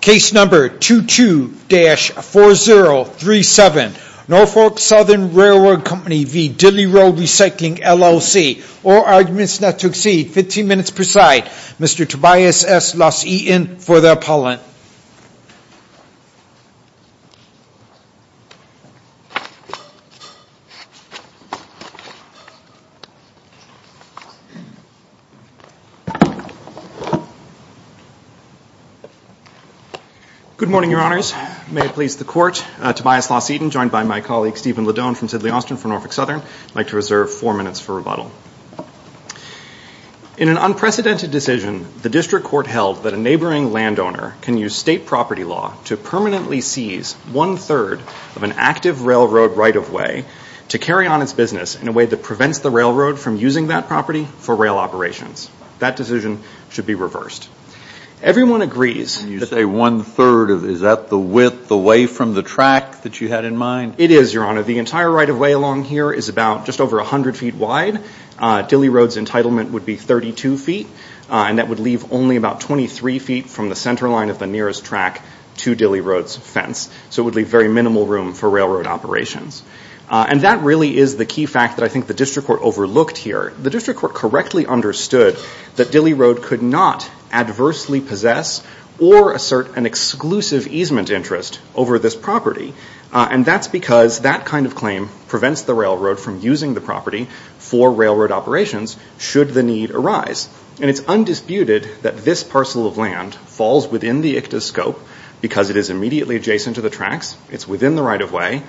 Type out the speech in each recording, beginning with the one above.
Case number 22-4037 Norfolk Southern Railway Co v. Dille Rd Recycling LLC All arguments not to exceed 15 minutes per side. Mr. Tobias S. Los Eaton for the appellant Good morning, your honors. May it please the court, Tobias Los Eaton joined by my colleague Stephen Ledone from Sidley Austin for Norfolk Southern. I'd like to reserve four minutes for rebuttal. In an unprecedented decision, the district court held that a neighboring landowner can use state property law to permanently seize one-third of an active railroad right-of-way to carry on its business in a way that prevents the railroad from using that property for rail operations. That decision should be reversed. Everyone agrees. You say one third, is that the width away from the track that you had in mind? It is, your honor. The entire right-of-way along here is about just over a hundred feet wide. Dille Rd's entitlement would be 32 feet and that would leave only about 23 feet from the center line of the nearest track to Dille Rd's fence. So it would leave very minimal room for railroad operations. And that really is the key fact that I think the district court overlooked here. The district court correctly understood that Dille Rd could not adversely possess or assert an exclusive easement interest over this property. And that's because that kind of claim prevents the railroad from using the property for railroad operations should the need arise. And it's undisputed that this parcel of land falls within the ICTA's scope because it is immediately adjacent to the tracks, it's in the right-of-way,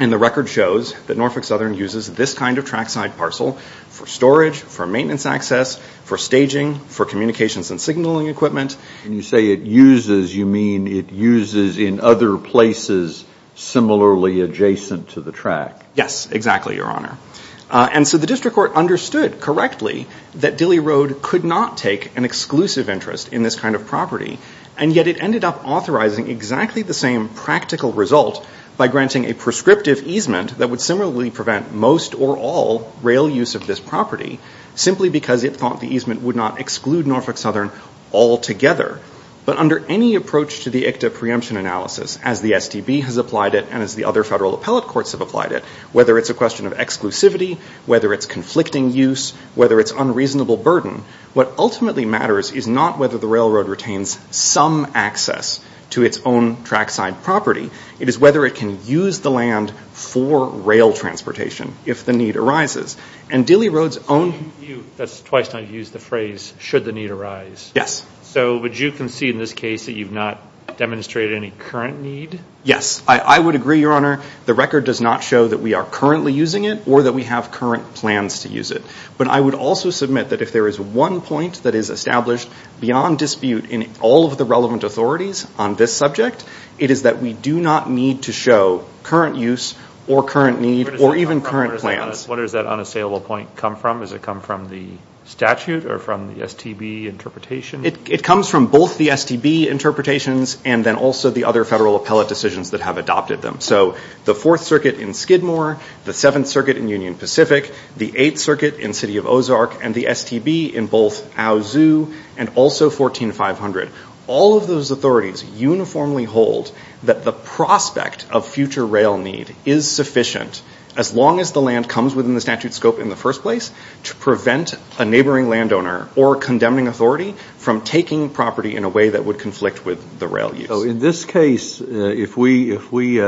and the record shows that Norfolk Southern uses this kind of trackside parcel for storage, for maintenance access, for staging, for communications and signaling equipment. When you say it uses, you mean it uses in other places similarly adjacent to the track? Yes, exactly, your honor. And so the district court understood correctly that Dille Rd could not take an exclusive interest in this kind of property. And yet it ended up authorizing exactly the same practical result by granting a prescriptive easement that would similarly prevent most or all rail use of this property simply because it thought the easement would not exclude Norfolk Southern altogether. But under any approach to the ICTA preemption analysis, as the STB has applied it and as the other federal appellate courts have applied it, whether it's a question of exclusivity, whether it's conflicting use, whether it's unreasonable burden, what ultimately matters is not whether the railroad retains some access to its own trackside property, it is whether it can use the land for rail transportation if the need arises. And Dille Rd's own... That's twice now used the phrase, should the need arise. Yes. So would you concede in this case that you've not demonstrated any current need? Yes, I would agree, your honor. The record does not show that we are currently using it or that we have current plans to use it. But I would also submit that if there is one point that is established beyond dispute in all of the relevant authorities on this subject, it is that we do not need to show current use or current need or even current plans. What does that unassailable point come from? Does it come from the statute or from the STB interpretation? It comes from both the STB interpretations and then also the other federal appellate decisions that have adopted them. So the Fourth Circuit in Skidmore, the Seventh Circuit in Union Pacific, the Eighth Circuit in the city of Ozark, and the STB in both Owe Zoo and also 14500. All of those authorities uniformly hold that the prospect of future rail need is sufficient as long as the land comes within the statute scope in the first place to prevent a neighboring landowner or condemning authority from taking property in a way that would conflict with the rail use. So in this case, if we if we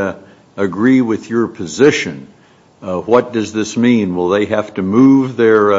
agree with your position, what does this mean? Will they have to move their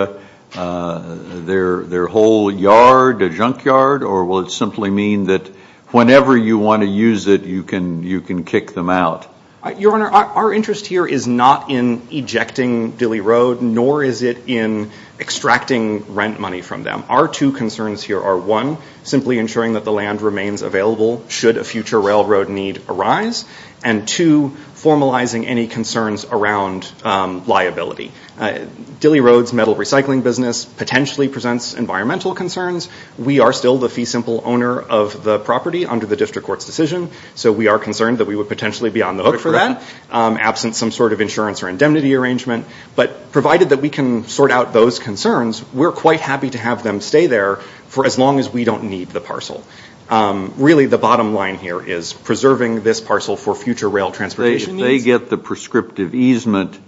their their whole yard, a junkyard, or will it simply mean that whenever you want to use it you can you can kick them out? Your Honor, our interest here is not in ejecting Dilley Road nor is it in extracting rent money from them. Our two concerns here are one, simply ensuring that the land remains available should a future railroad need arise, and two, formalizing any concerns around liability. Dilley Road's metal recycling business potentially presents environmental concerns. We are still the fee simple owner of the property under the district court's decision, so we are concerned that we would potentially be on the hook for that, absent some sort of insurance or indemnity arrangement. But provided that we can sort out those concerns, we're quite happy to have them stay there for as long as we don't need the parcel. Really the bottom line here is preserving this parcel for future rail transportation. They get the prescriptive easement.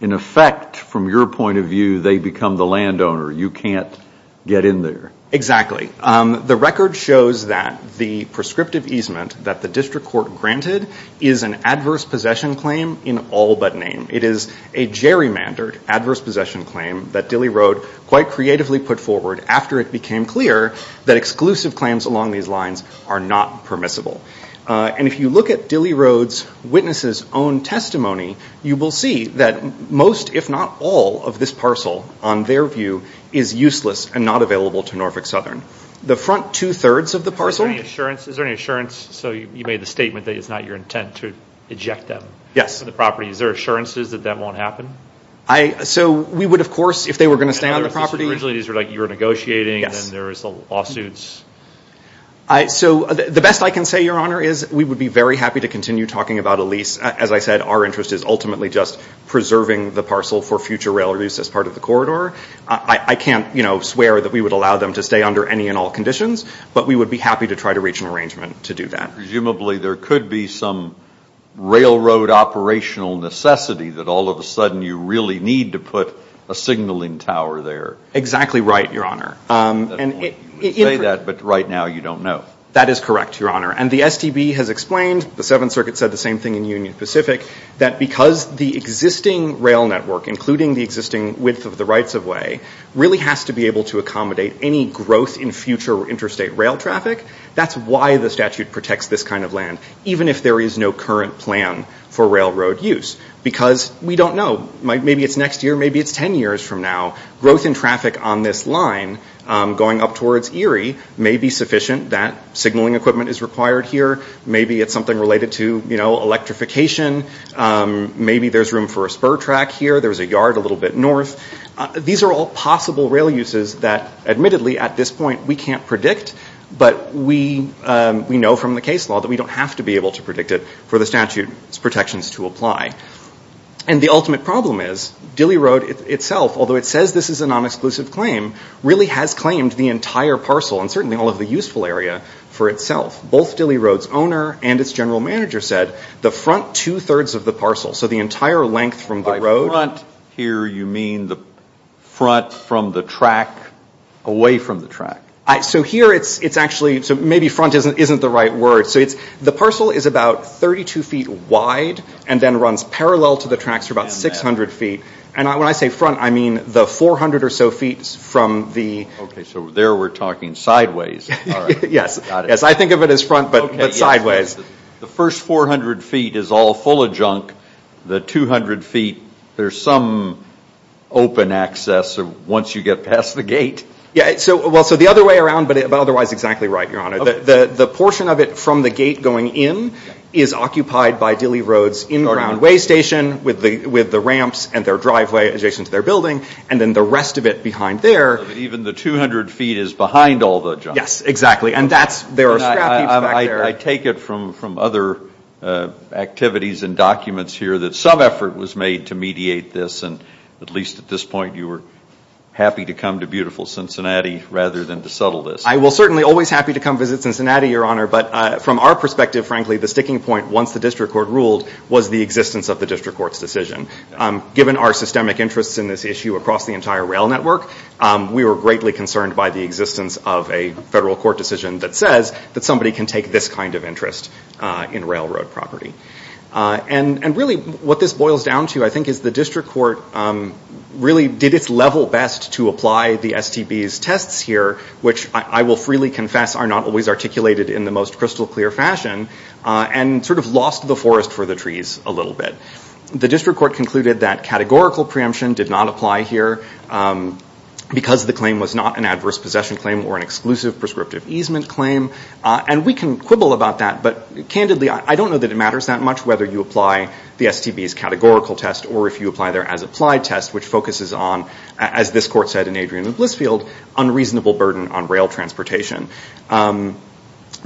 In effect, from your point of view, they become the landowner. You can't get in there. Exactly. The record shows that the prescriptive easement that the district court granted is an adverse possession claim in all but name. It is a gerrymandered adverse possession claim that Dilley Road quite creatively put forward after it became clear that exclusive claims along these lines are not permissible. And if you look at Dilley Road's witnesses own testimony, you will see that most, if not all, of this parcel, on their view, is useless and not available to Norfolk Southern. The front two-thirds of the parcel... Is there any assurance? So you made the statement that it's not your intent to eject them. Yes. The property. Is there assurances that that won't happen? So we would, of course, if they were going to stay on the property... Originally these were like you were negotiating, and then there was the lawsuits. So the best I can say, Your Honor, is we would be very happy to continue talking about a lease. As I said, our interest is ultimately just preserving the parcel for future rail use as part of the corridor. I can't, you know, swear that we would allow them to stay under any and all conditions, but we would be happy to try to reach an arrangement to do that. Presumably there could be some railroad operational necessity that all of a sudden you really need to put a signaling tower there. Exactly right, Your Honor. You would say that, but right now you don't know. That is correct, Your Honor. And the STB has explained, the Seventh Circuit said the same thing in Union Pacific, that because the existing rail network, including the existing width of the rights-of-way, really has to be able to accommodate any growth in future interstate rail traffic. That's why the statute protects this kind of land, even if there is no current plan for railroad use. Because we don't know. Maybe it's next year, maybe it's ten years from now. Growth in traffic on this line going up towards Erie may be sufficient. That signaling equipment is required here. Maybe it's something related to, you know, electrification. Maybe there's room for a spur track here. There's a yard a little bit north. These are all possible rail uses that, admittedly, at this point we can't predict, but we know from the case law that we don't have to be able to predict it for the statute's protections to apply. And the ultimate problem is, Dilley Road itself, although it says this is a non-exclusive claim, really has claimed the entire parcel, and certainly all of the useful area, for itself. Both Dilley Road's owner and its general manager said, the front two-thirds of the parcel, so the entire length from the road. By front here, you mean the front from the track, away from the track. So here it's actually, so maybe front isn't the right word. So it's, the parcel is about 32 feet wide and then runs parallel to the tracks for about 600 feet. And when I say front, I mean the 400 or so feet from the... Okay, so there we're talking sideways. Yes, I think of it as front, but sideways. The first 400 feet is all full of junk. The 200 feet, there's some open access once you get past the gate. Yeah, so, well, so the other way around, but otherwise exactly right, Your Honor. The portion of it from the gate going in is occupied by Dilley Road's inbound way station, with the ramps and their driveway adjacent to their building, and then the rest of it behind there. Even the 200 feet is behind all the junk. Yes, exactly. And that's, there are scrap heaps back there. I take it from other activities and documents here that some effort was made to mediate this, and at least at this point you were happy to come to beautiful Cincinnati rather than to settle this. I will certainly always happy to come visit Cincinnati, Your Honor, but from our perspective, frankly, the sticking point, once the district court ruled, was the existence of the railroad. Given our systemic interests in this issue across the entire rail network, we were greatly concerned by the existence of a federal court decision that says that somebody can take this kind of interest in railroad property. And really what this boils down to, I think, is the district court really did its level best to apply the STB's tests here, which I will freely confess are not always articulated in the most crystal clear fashion, and sort of lost the forest for the trees a little bit. The district court concluded that categorical preemption did not apply here because the claim was not an adverse possession claim or an exclusive prescriptive easement claim. And we can quibble about that, but candidly, I don't know that it matters that much whether you apply the STB's categorical test or if you apply their as-applied test, which focuses on, as this court said in Adrian and Blissfield, unreasonable burden on rail transportation.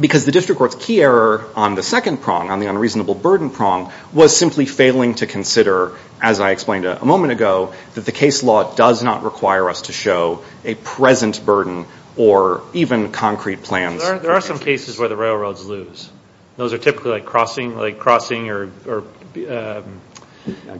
Because the district court's key error on the second prong, on the unreasonable burden prong, was simply failing to consider, as I explained a moment ago, that the case law does not require us to show a present burden or even concrete plans. There are some cases where the railroads lose. Those are typically like crossing, like crossing or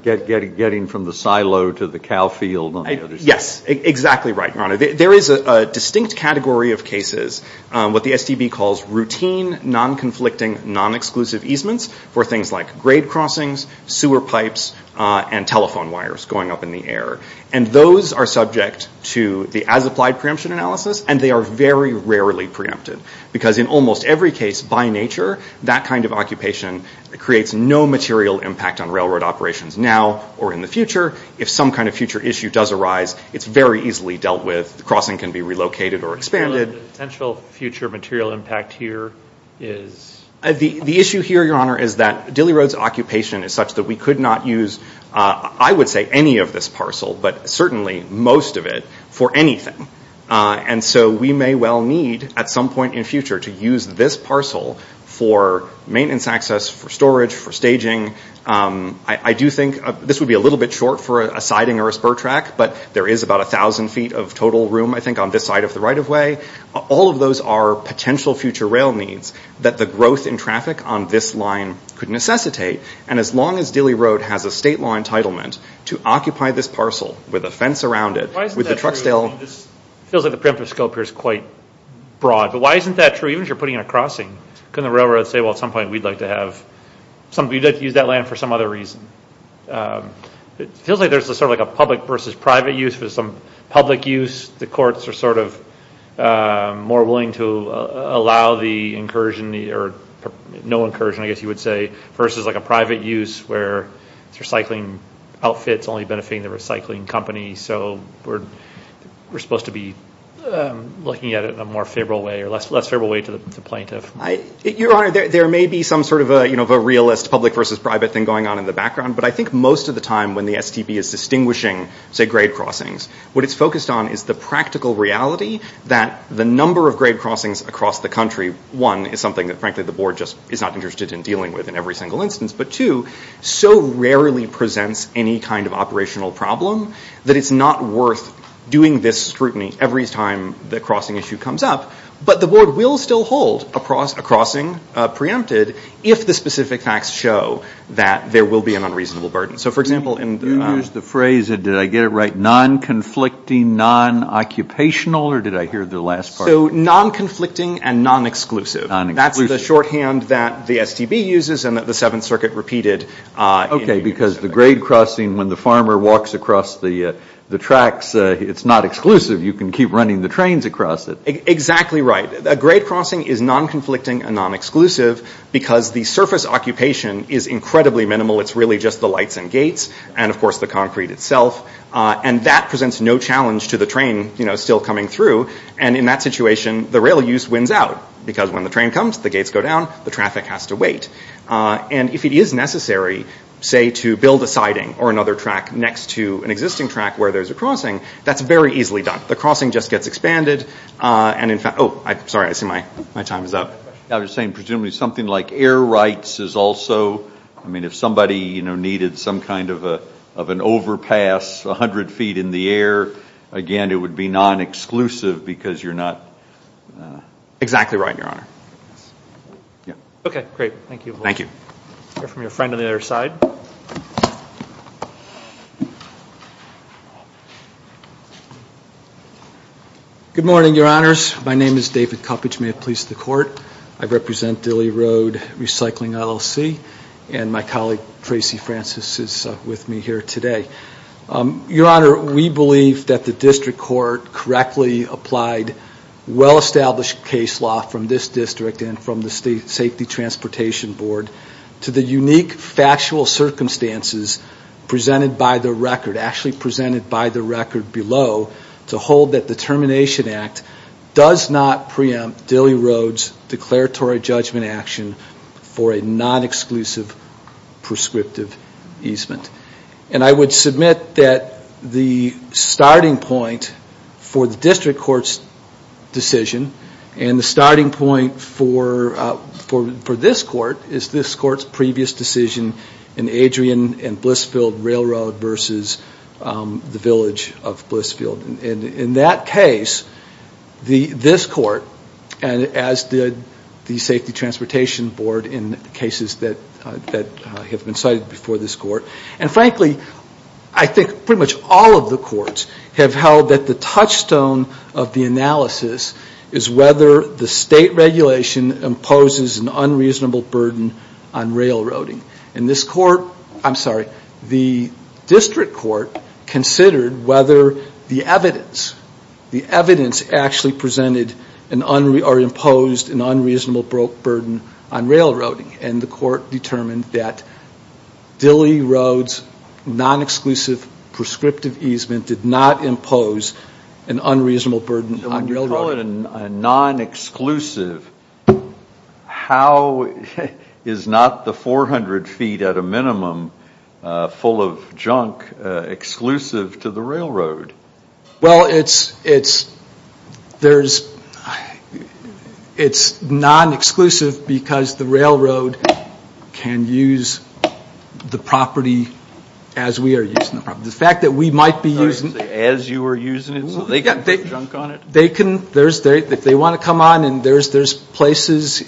getting from the silo to the cow field. Yes, exactly right, your honor. There is a distinct category of cases, what the STB calls routine, non-conflicting, non-exclusive easements for things like grade crossings, sewer pipes, and telephone wires going up in the air. And those are subject to the as-applied preemption analysis, and they are very rarely preempted. Because in almost every case, by nature, that kind of occupation creates no material impact on railroad operations now or in the future. If some kind of future issue does arise, it's very easily dealt with. The crossing can be relocated or expanded. The potential future material impact here is... The issue here, your honor, is that Dilley Road's occupation is such that we could not use, I would say, any of this parcel, but certainly most of it, for anything. And so we may well need, at some point in future, to use this parcel for maintenance access, for storage, for staging. I do think this would be a little bit short for a siding or a spur track, but there is about a thousand feet of total room, I think, on this side of the right-of-way. All of those are potential future rail needs that the growth in traffic on this line could necessitate. And as long as Dilley Road has a state law entitlement to occupy this parcel with a fence around it, with the Truxdale... It feels like the preemptive scope here is quite broad, but why isn't that true? Even if you're putting in a crossing, couldn't the railroad say, well, at some point we'd like to have... We'd like to use that land for some other reason. It feels like there's sort of like a public versus private use for some public use. The courts are sort of more willing to allow the incursion, or no incursion, I guess you would say, versus like a private use where it's recycling outfits only benefiting the recycling company. So we're supposed to be looking at it in a more favorable way or less favorable way to the plaintiff. Your Honor, there may be some sort of a realist public versus private thing going on in the background, but I think most of the time when the STP is distinguishing, say, grade crossings, what it's focused on is the practical reality that the number of grade crossings across the country, one, is something that frankly the board just is not interested in dealing with in every single instance, but two, so rarely presents any kind of operational problem that it's not worth doing this scrutiny every time the crossing issue comes up. But the board will still hold a crossing preempted if the specific facts show that there will be an unreasonable burden. So for example in the... You used the phrase, did I get it right, non-conflicting, non-occupational, or did I hear the last part? So non-conflicting and non-exclusive. That's the shorthand that the STB uses and that the Seventh Circuit repeated. Okay, because the grade crossing, when the farmer walks across the tracks, it's not exclusive. You can keep running the trains across it. Exactly right. A grade crossing is non-conflicting and non-exclusive because the surface occupation is incredibly minimal. It's really just the lights and gates and of course the concrete itself. And that presents no challenge to the train, you know, still coming through. And in that situation, the rail use wins out because when the train comes, the gates go down, the traffic has to wait. And if it is necessary, say, to build a siding or another track next to an existing track where there's a crossing, that's very easily done. The crossing just gets expanded and in fact, oh, sorry, I see my time is up. I was saying presumably something like air rights is also, I mean if somebody, you know, needed some kind of an overpass a hundred feet in the air, again, it would be non-exclusive because you're not... Exactly right, Your Honor. Yeah. Okay, great. Thank you. Thank you. From your friend on the other side. Good morning, Your Honors. My name is David Cuppage. May it please the court, I represent Dilley Road Recycling LLC and my colleague Tracy Francis is with me here today. Your Honor, we believe that the district court correctly applied well-established case law from this district and from the State Safety Transportation Board to the unique factual circumstances presented by the record below to hold that the Termination Act does not preempt Dilley Road's declaratory judgment action for a non-exclusive prescriptive easement. And I would submit that the starting point for the district court's decision and the starting point for this court is this court's previous decision in Adrian and Blissfield Railroad versus the village of Blissfield. And in that case, this court, and as did the Safety Transportation Board in cases that have been cited before this court, and frankly, I think pretty much all of the courts have held that the touchstone of the analysis is whether the state regulation imposes an unreasonable burden on railroading. And this court, I'm sorry, the district court considered whether the evidence, the evidence actually presented or imposed an unreasonable burden on railroading. And the court determined that Dilley Road's non-exclusive prescriptive easement did not impose an unreasonable burden on railroading. If you call it a non-exclusive, how is not the 400 feet at a minimum full of junk exclusive to the railroad? Well, it's non-exclusive because the railroad can use the property as we are using the property. The fact that we might be using... As you are using it so they can put junk on it? If they want to come on and there's places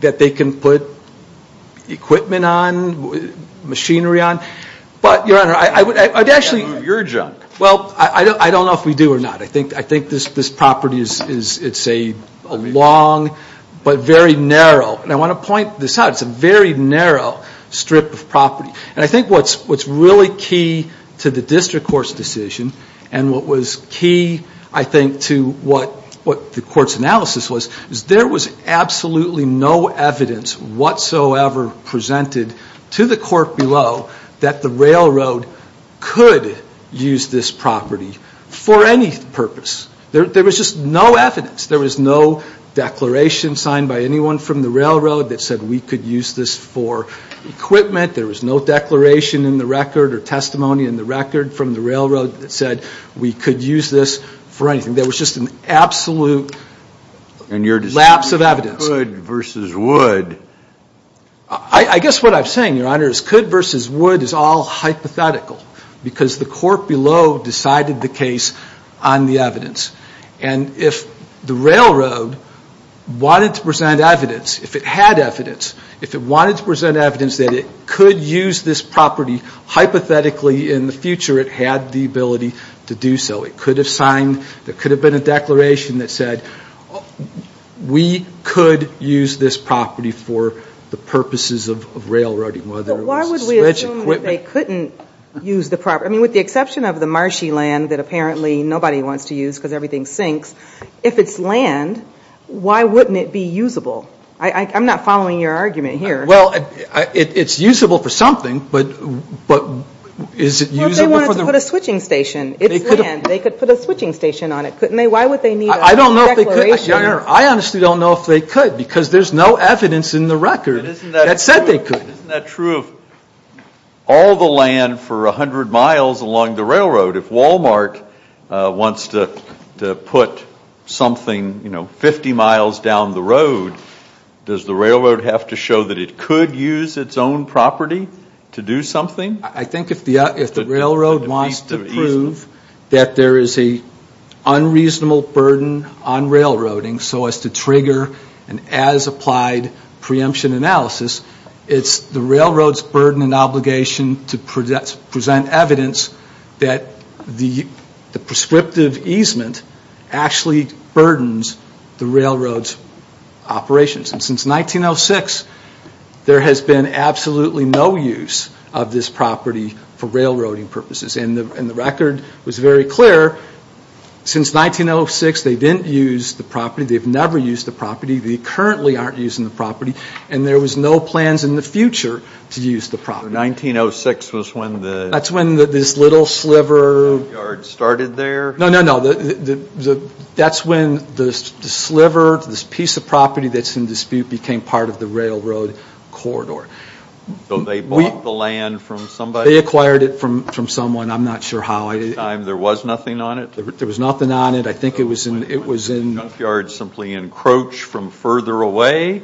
that they can put equipment on, machinery on, but Your Honor, I would actually... Your junk. Well, I don't know if we do or not. I think this property is a long but very narrow, and I want to point this out, it's a very narrow strip of property. And I think what's really key to the district court's decision and what was key, I think, to what the court's analysis was, is there was absolutely no evidence whatsoever presented to the court below that the railroad could use this property for any purpose. There was just no evidence. There was no declaration signed by anyone from the railroad that said we could use this for equipment. There was no declaration in the record or testimony in the record from the railroad that said we could use this for anything. There was just an absolute lapse of evidence. And your decision was could versus would? I guess what I'm saying, Your Honor, is could versus would is all hypothetical because the court below decided the case on the evidence. And if the railroad wanted to present evidence, if it had evidence, if it wanted to present evidence that it could use this property, hypothetically in the future it had the ability to do so. It could have signed, there could have been a declaration that said we could use this property for the purposes of railroading, whether it was to stretch equipment. But why would we assume that they couldn't use the property? I mean, with the exception of the marshy land that apparently nobody wants to use because everything sinks, if it's land, why wouldn't it be usable? I'm not following your argument here. Well, it's usable for something, but is it usable for the Well, if they wanted to put a switching station, it's land, they could put a switching station on it, couldn't they? Why would they need a declaration? I don't know if they could, Your Honor. I honestly don't know if they could because there's no evidence in the record that said they could. But isn't that true of all the land for 100 miles along the railroad? If Walmart wants to put something, you know, 50 miles down the road, does the railroad have to show that it could use its own property to do something? I think if the railroad wants to prove that there is an unreasonable burden on railroading so as to trigger an as-applied preemption analysis, it's the railroad's burden and obligation to present evidence that the prescriptive easement actually burdens the railroad's operations. And since 1906, there has been absolutely no use of this property for railroading purposes. And the record was very clear, since 1906, they didn't use the property, they've never used the property, they currently aren't using the property, and there was no plans in the future to use the property. So 1906 was when the... That's when this little sliver... No, no, no. That's when the sliver, this piece of property that's in dispute became part of the railroad corridor. So they bought the land from somebody? They acquired it from someone. I'm not sure how. At the time, there was nothing on it? There was nothing on it. I think it was in... Did the junkyard simply encroach from further away?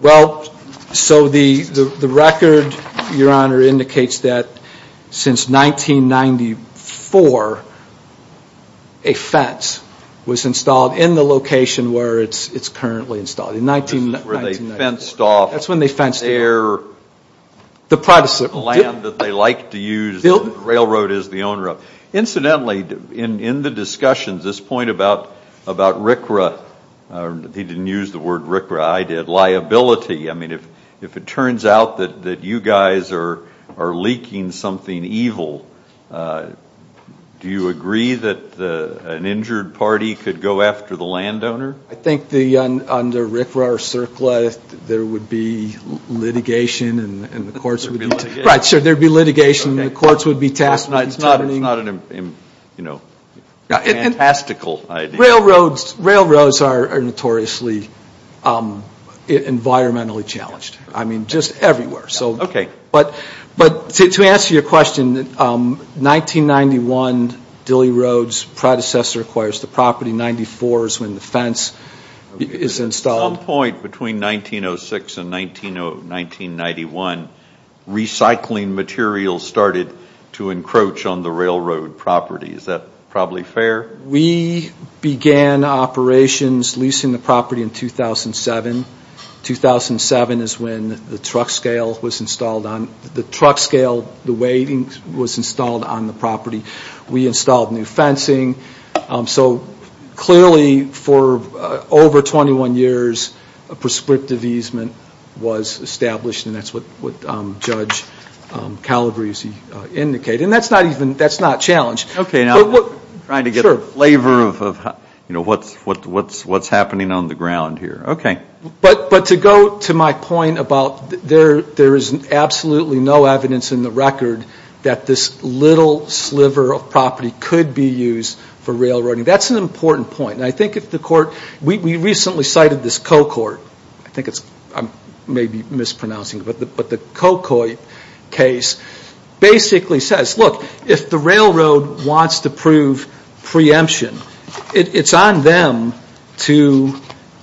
Well, so the record, Your Honor, indicates that since 1994, a fence was installed in the location where it's currently installed. This is where they fenced off... That's when they fenced it off. The land that they liked to use, the railroad is the owner of. Incidentally, in the discussions, this point about RCRA... He didn't use the word RCRA. I did. Liability. I mean, if it turns out that you guys are leaking something evil, do you agree that an injured party could go after the landowner? I think under RCRA or CERCLA, there would be litigation and the courts would be... Right, sure, there'd be litigation and the courts would be tasked with determining... It's not a fantastical idea. Railroads are notoriously environmentally challenged. I mean, just everywhere. Okay. But to answer your question, 1991, Dilley Road's predecessor acquires the property. 94 is when the fence is installed. At some point between 1906 and 1991, recycling materials started to encroach on the railroad property. Is that probably fair? We began operations leasing the property in 2007. 2007 is when the truck scale was installed on the property. We installed new fencing. So clearly for over 21 years, a prescriptive easement was established and that's what Judge Calabrese indicated. And that's not even... That's not a challenge. Okay, I'm trying to get a flavor of what's happening on the ground here. Okay. But to go to my point about there is absolutely no evidence in the record that this little sliver of property could be used for railroading. That's an important point. And I think if the court... We recently cited this CoCort. I think it's... I may be mispronouncing, but the CoCort case basically says, look, if the railroad wants to prove preemption, it's on them to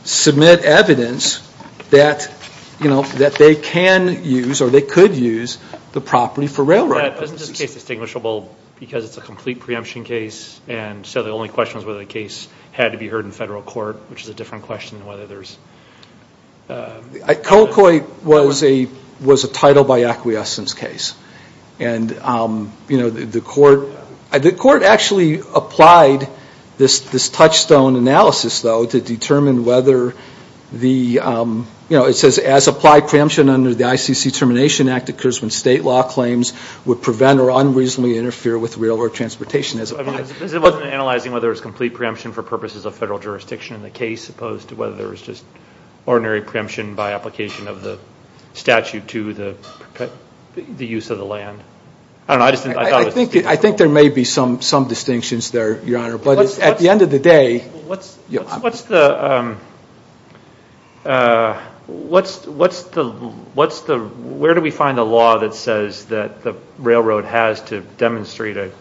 submit evidence that they can use or they could use the property for railroading. Isn't this case distinguishable because it's a complete preemption case and so the only question was whether the case had to be heard in federal court, which is a different question than whether there's... CoCort was a title by acquiescence case. And the court actually applied this touchstone analysis though to determine whether the... It says as applied preemption under the ICC Termination Act occurs when state law claims would prevent or unreasonably interfere with railroad transportation as applied. It wasn't analyzing whether it was complete preemption for purposes of federal jurisdiction in the case opposed to whether there was just ordinary preemption by application of the statute to the use of the land. I don't know. I just thought it was distinguishable. I think there may be some distinctions there, Your Honor. At the end of the day... Where do we find a law that says that the railroad has to demonstrate an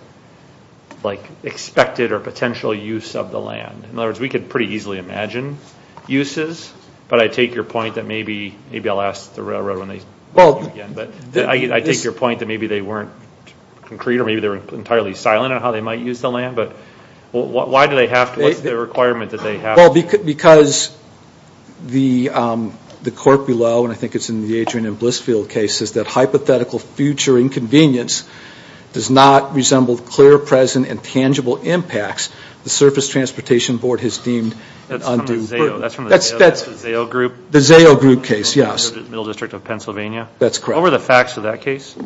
expected or potential use of the land? In other words, we could pretty easily imagine uses, but I take your point that maybe I'll ask the railroad when they... I take your point that maybe they weren't concrete or maybe they were entirely silent on how they might use the land, but why do they have to? What's the requirement that they have to? Because the court below, and I think it's in the Adrian and Blissfield case, says that hypothetical future inconvenience does not resemble clear, present, and tangible impacts the Surface Transportation Board has deemed undue... That's from the ZAO group? The ZAO group case, yes. The Middle District of Pennsylvania? That's correct. What were the facts of that case?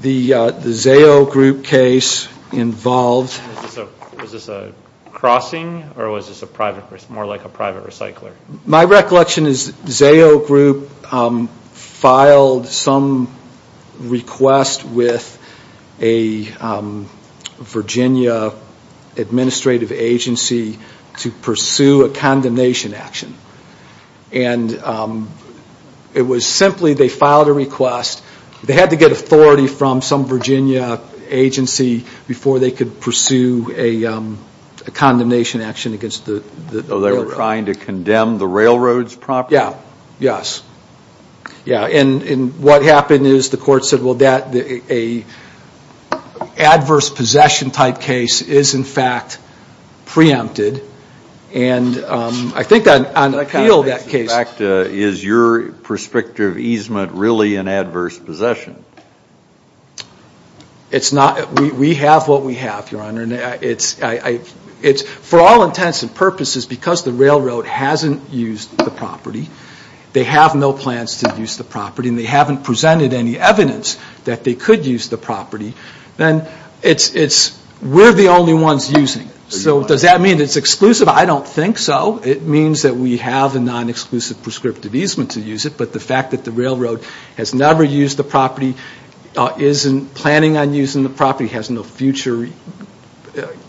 The ZAO group case involved... Was this a crossing or was this more like a private recycler? My recollection is ZAO group filed some request with a Virginia administrative agency to pursue a condemnation action. And it was simply they filed a request, they had to get authority from some Virginia agency before they could pursue a condemnation action against the railroad. Oh, they were trying to condemn the railroad's property? Yeah, yes. And what happened is the court said, well, an adverse possession type case is in fact preempted. And I think on appeal that case... Is your prescriptive easement really an adverse possession? It's not. We have what we have, Your Honor. For all intents and purposes, because the railroad hasn't used the property, they have no plans to use the property, and they haven't presented any evidence that they could use the property, then we're the only ones using it. So does that mean it's exclusive? I don't think so. It means that we have a non-exclusive prescriptive easement to use it, but the fact that the railroad has never used the property, isn't planning on using the property, has no future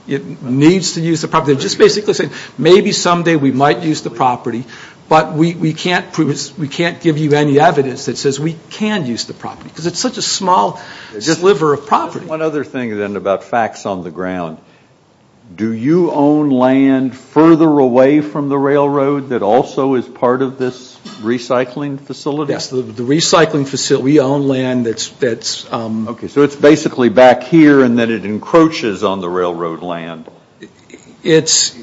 needs to use the property. Just basically saying maybe someday we might use the property, but we can't give you any evidence that says we can use the property, because it's such a small sliver of property. One other thing then about facts on the ground. Do you own land further away from the railroad that also is part of this recycling facility? Yes, the recycling facility. We own land that's... Okay, so it's basically back here, and then it encroaches on the railroad land. It's...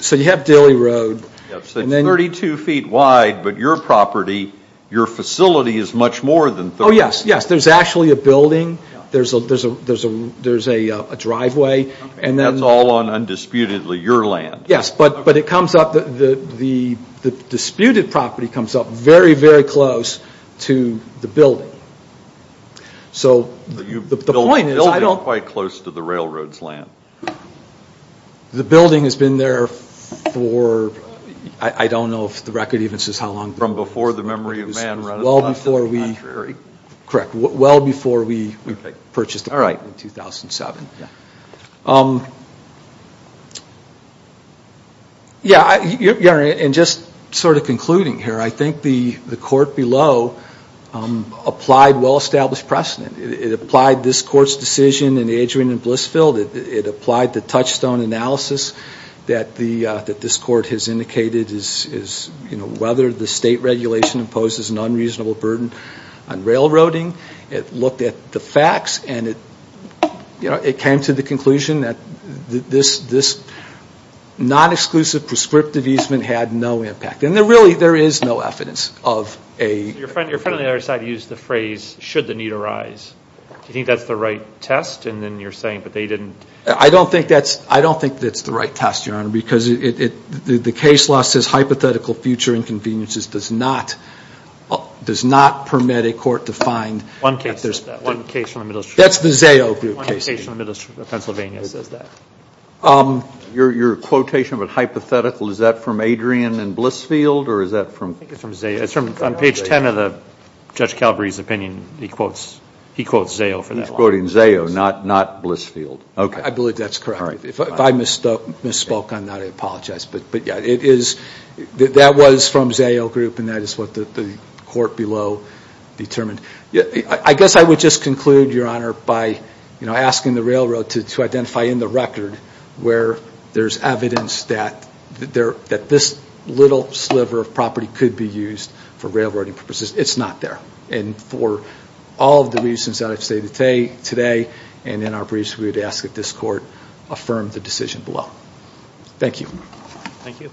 So you have Dilley Road. It's 32 feet wide, but your property, your facility is much more than 32. Oh yes, yes. There's actually a building. There's a driveway, and then... That's all on, undisputedly, your land. Yes, but it comes up... The disputed property comes up very, very close to the building. So the point is... The building is quite close to the railroad's land. The building has been there for... I don't know if the record even says how long... From before the memory of man run across to the contrary. Correct, well before we purchased it in 2007. Yes, and just sort of concluding here, I think the court below applied well-established precedent. It applied this court's decision in Adrian and Blissfield. It applied the touchstone analysis that this court has indicated is whether the state regulation imposes an unreasonable burden on railroading. It looked at the facts, and it came to the conclusion that this non-exclusive prescriptive easement had no impact. And really, there is no evidence of a... Your friend on the other side used the phrase, should the need arise. Do you think that's the right test? And then you're saying, but they didn't... I don't think that's the right test, Your Honor, because the case law says hypothetical future inconveniences does not permit a court to find... One case from the middle... That's the Zayo case. One case from the middle of Pennsylvania says that. Your quotation of a hypothetical, is that from Adrian and Blissfield, or is that from... I think it's from Zayo. It's from page 10 of Judge Calabrese's opinion. He quotes Zayo for that. He's quoting Zayo, not Blissfield. I believe that's correct. If I misspoke on that, I apologize. That was from Zayo group, and that is what the court below determined. I guess I would just conclude, Your Honor, by asking the railroad to identify in the record where there's evidence that this little sliver of property could be used for railroading purposes. It's not there. And for all of the reasons that I've stated today and in our briefs, we would ask that this court affirm the decision below. Thank you. Thank you.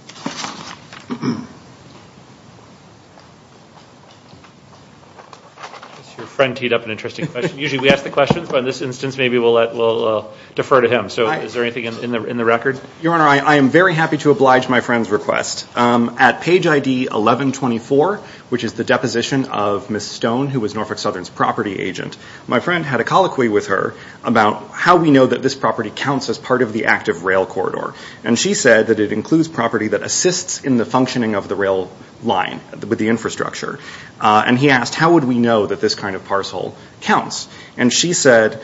Your friend teed up an interesting question. Usually we ask the questions, but in this instance, maybe we'll defer to him. So is there anything in the record? Your Honor, I am very happy to oblige my friend's request. At page ID 1124, which is the deposition of Ms. Stone, who was Norfolk Southern's property agent, my friend had a colloquy with her about how we know that this property counts as part of the active rail corridor. And she said that it includes property that assists in the functioning of the rail line with the infrastructure. And he asked, how would we know that this kind of parcel counts? And she said,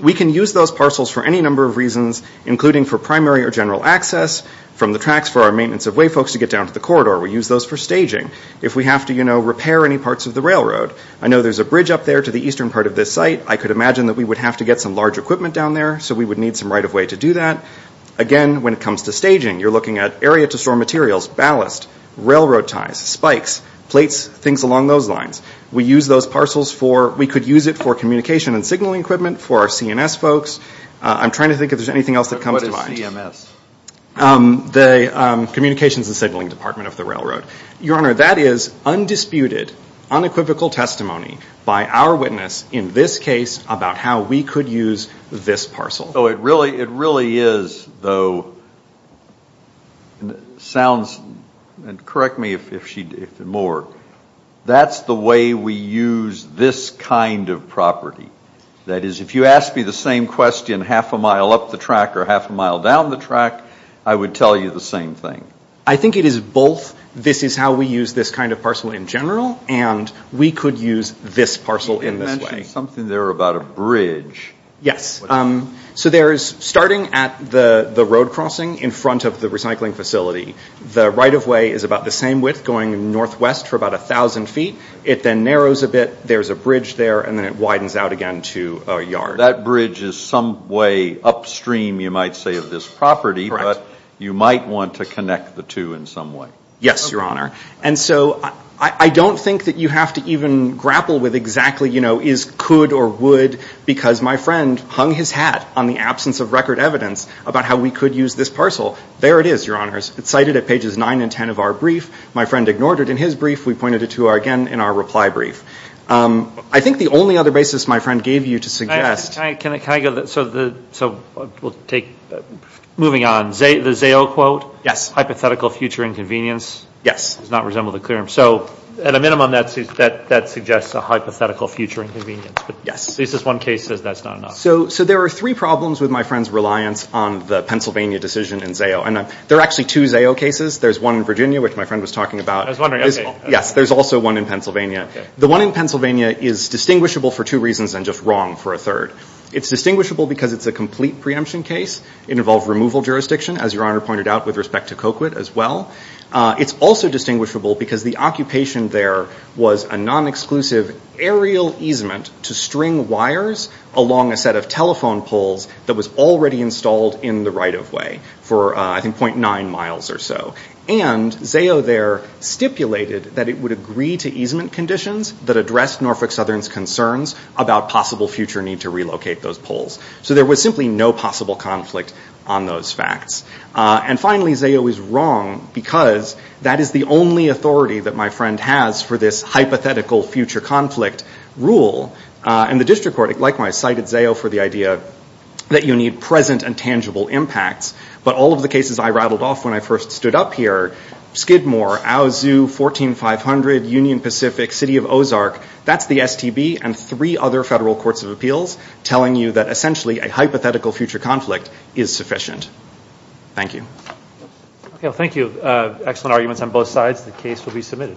we can use those parcels for any number of reasons, including for primary or general access from the tracks for our maintenance of way folks to get down to the corridor. We use those for staging. If we have to repair any parts of the railroad, I know there's a bridge up there to the eastern part of this site. I could imagine that we would have to get some large equipment down there, so we would need some right of way to do that. Again, when it comes to staging, you're looking at area to store materials, ballast, railroad ties, spikes, plates, things along those lines. We use those parcels for... We could use it for communication and signaling equipment for our CNS folks. I'm trying to think if there's anything else that comes to mind. What is CMS? Communications and Signaling Department of the Railroad. Your Honor, that is undisputed, unequivocal testimony by our witness in this case about how we could use this parcel. It really is, though, sounds... Correct me if more. That's the way we use this kind of property. That is, if you asked me the same question half a mile up the track or half a mile down the track, I would tell you the same thing. I think it is both. This is how we use this kind of parcel in general, and we could use this parcel in this way. You mentioned something there about a bridge. Yes. Starting at the road crossing in front of the recycling facility, the right-of-way is about the same width, going northwest for about 1,000 feet. It then narrows a bit. There's a bridge there, and then it widens out again to a yard. That bridge is some way upstream, you might say, of this property, but you might want to connect the two in some way. Yes, Your Honor. I don't think that you have to even grapple with exactly, you know, is could or would, because my friend hung his hat on the absence of record evidence about how we could use this parcel. There it is, Your Honors. It's cited at pages 9 and 10 of our brief. My friend ignored it in his brief. We pointed it to, again, in our reply brief. I think the only other basis my friend gave you to suggest... Can I go to the... So we'll take... Moving on. The ZAO quote? Yes. Hypothetical future inconvenience? Yes. So at a minimum, that suggests a hypothetical future inconvenience. Yes. At least this one case says that's not enough. So there are three problems with my friend's reliance on the Pennsylvania decision in ZAO. There are actually two ZAO cases. There's one in Virginia, which my friend was talking about. Yes, there's also one in Pennsylvania. The one in Pennsylvania is distinguishable for two reasons, and just wrong for a third. It's distinguishable because it's a complete preemption case. It involved removal jurisdiction, as Your Honor pointed out, with respect to Coquit as well. It's also distinguishable because the occupation there was a non-exclusive aerial easement to string wires along a set of telephone poles that was already installed in the right-of-way for, I think, .9 miles or so. And ZAO there stipulated that it would agree to easement conditions that addressed Norfolk Southern's concerns about possible future need to relocate those poles. So there was simply no possible conflict on those facts. And finally, ZAO is wrong because that is the only authority that my friend has for this hypothetical future conflict rule. And the district court, likewise, cited ZAO for the idea that you need present and tangible impacts. But all of the cases I rattled off when I first stood up here, Skidmore, Owl Zoo, 14500, Union Pacific, City of Ozark, that's the STB and three other federal courts of appeals telling you that essentially a hypothetical future conflict is sufficient. Thank you. Thank you. Excellent arguments on both sides. The case will be submitted.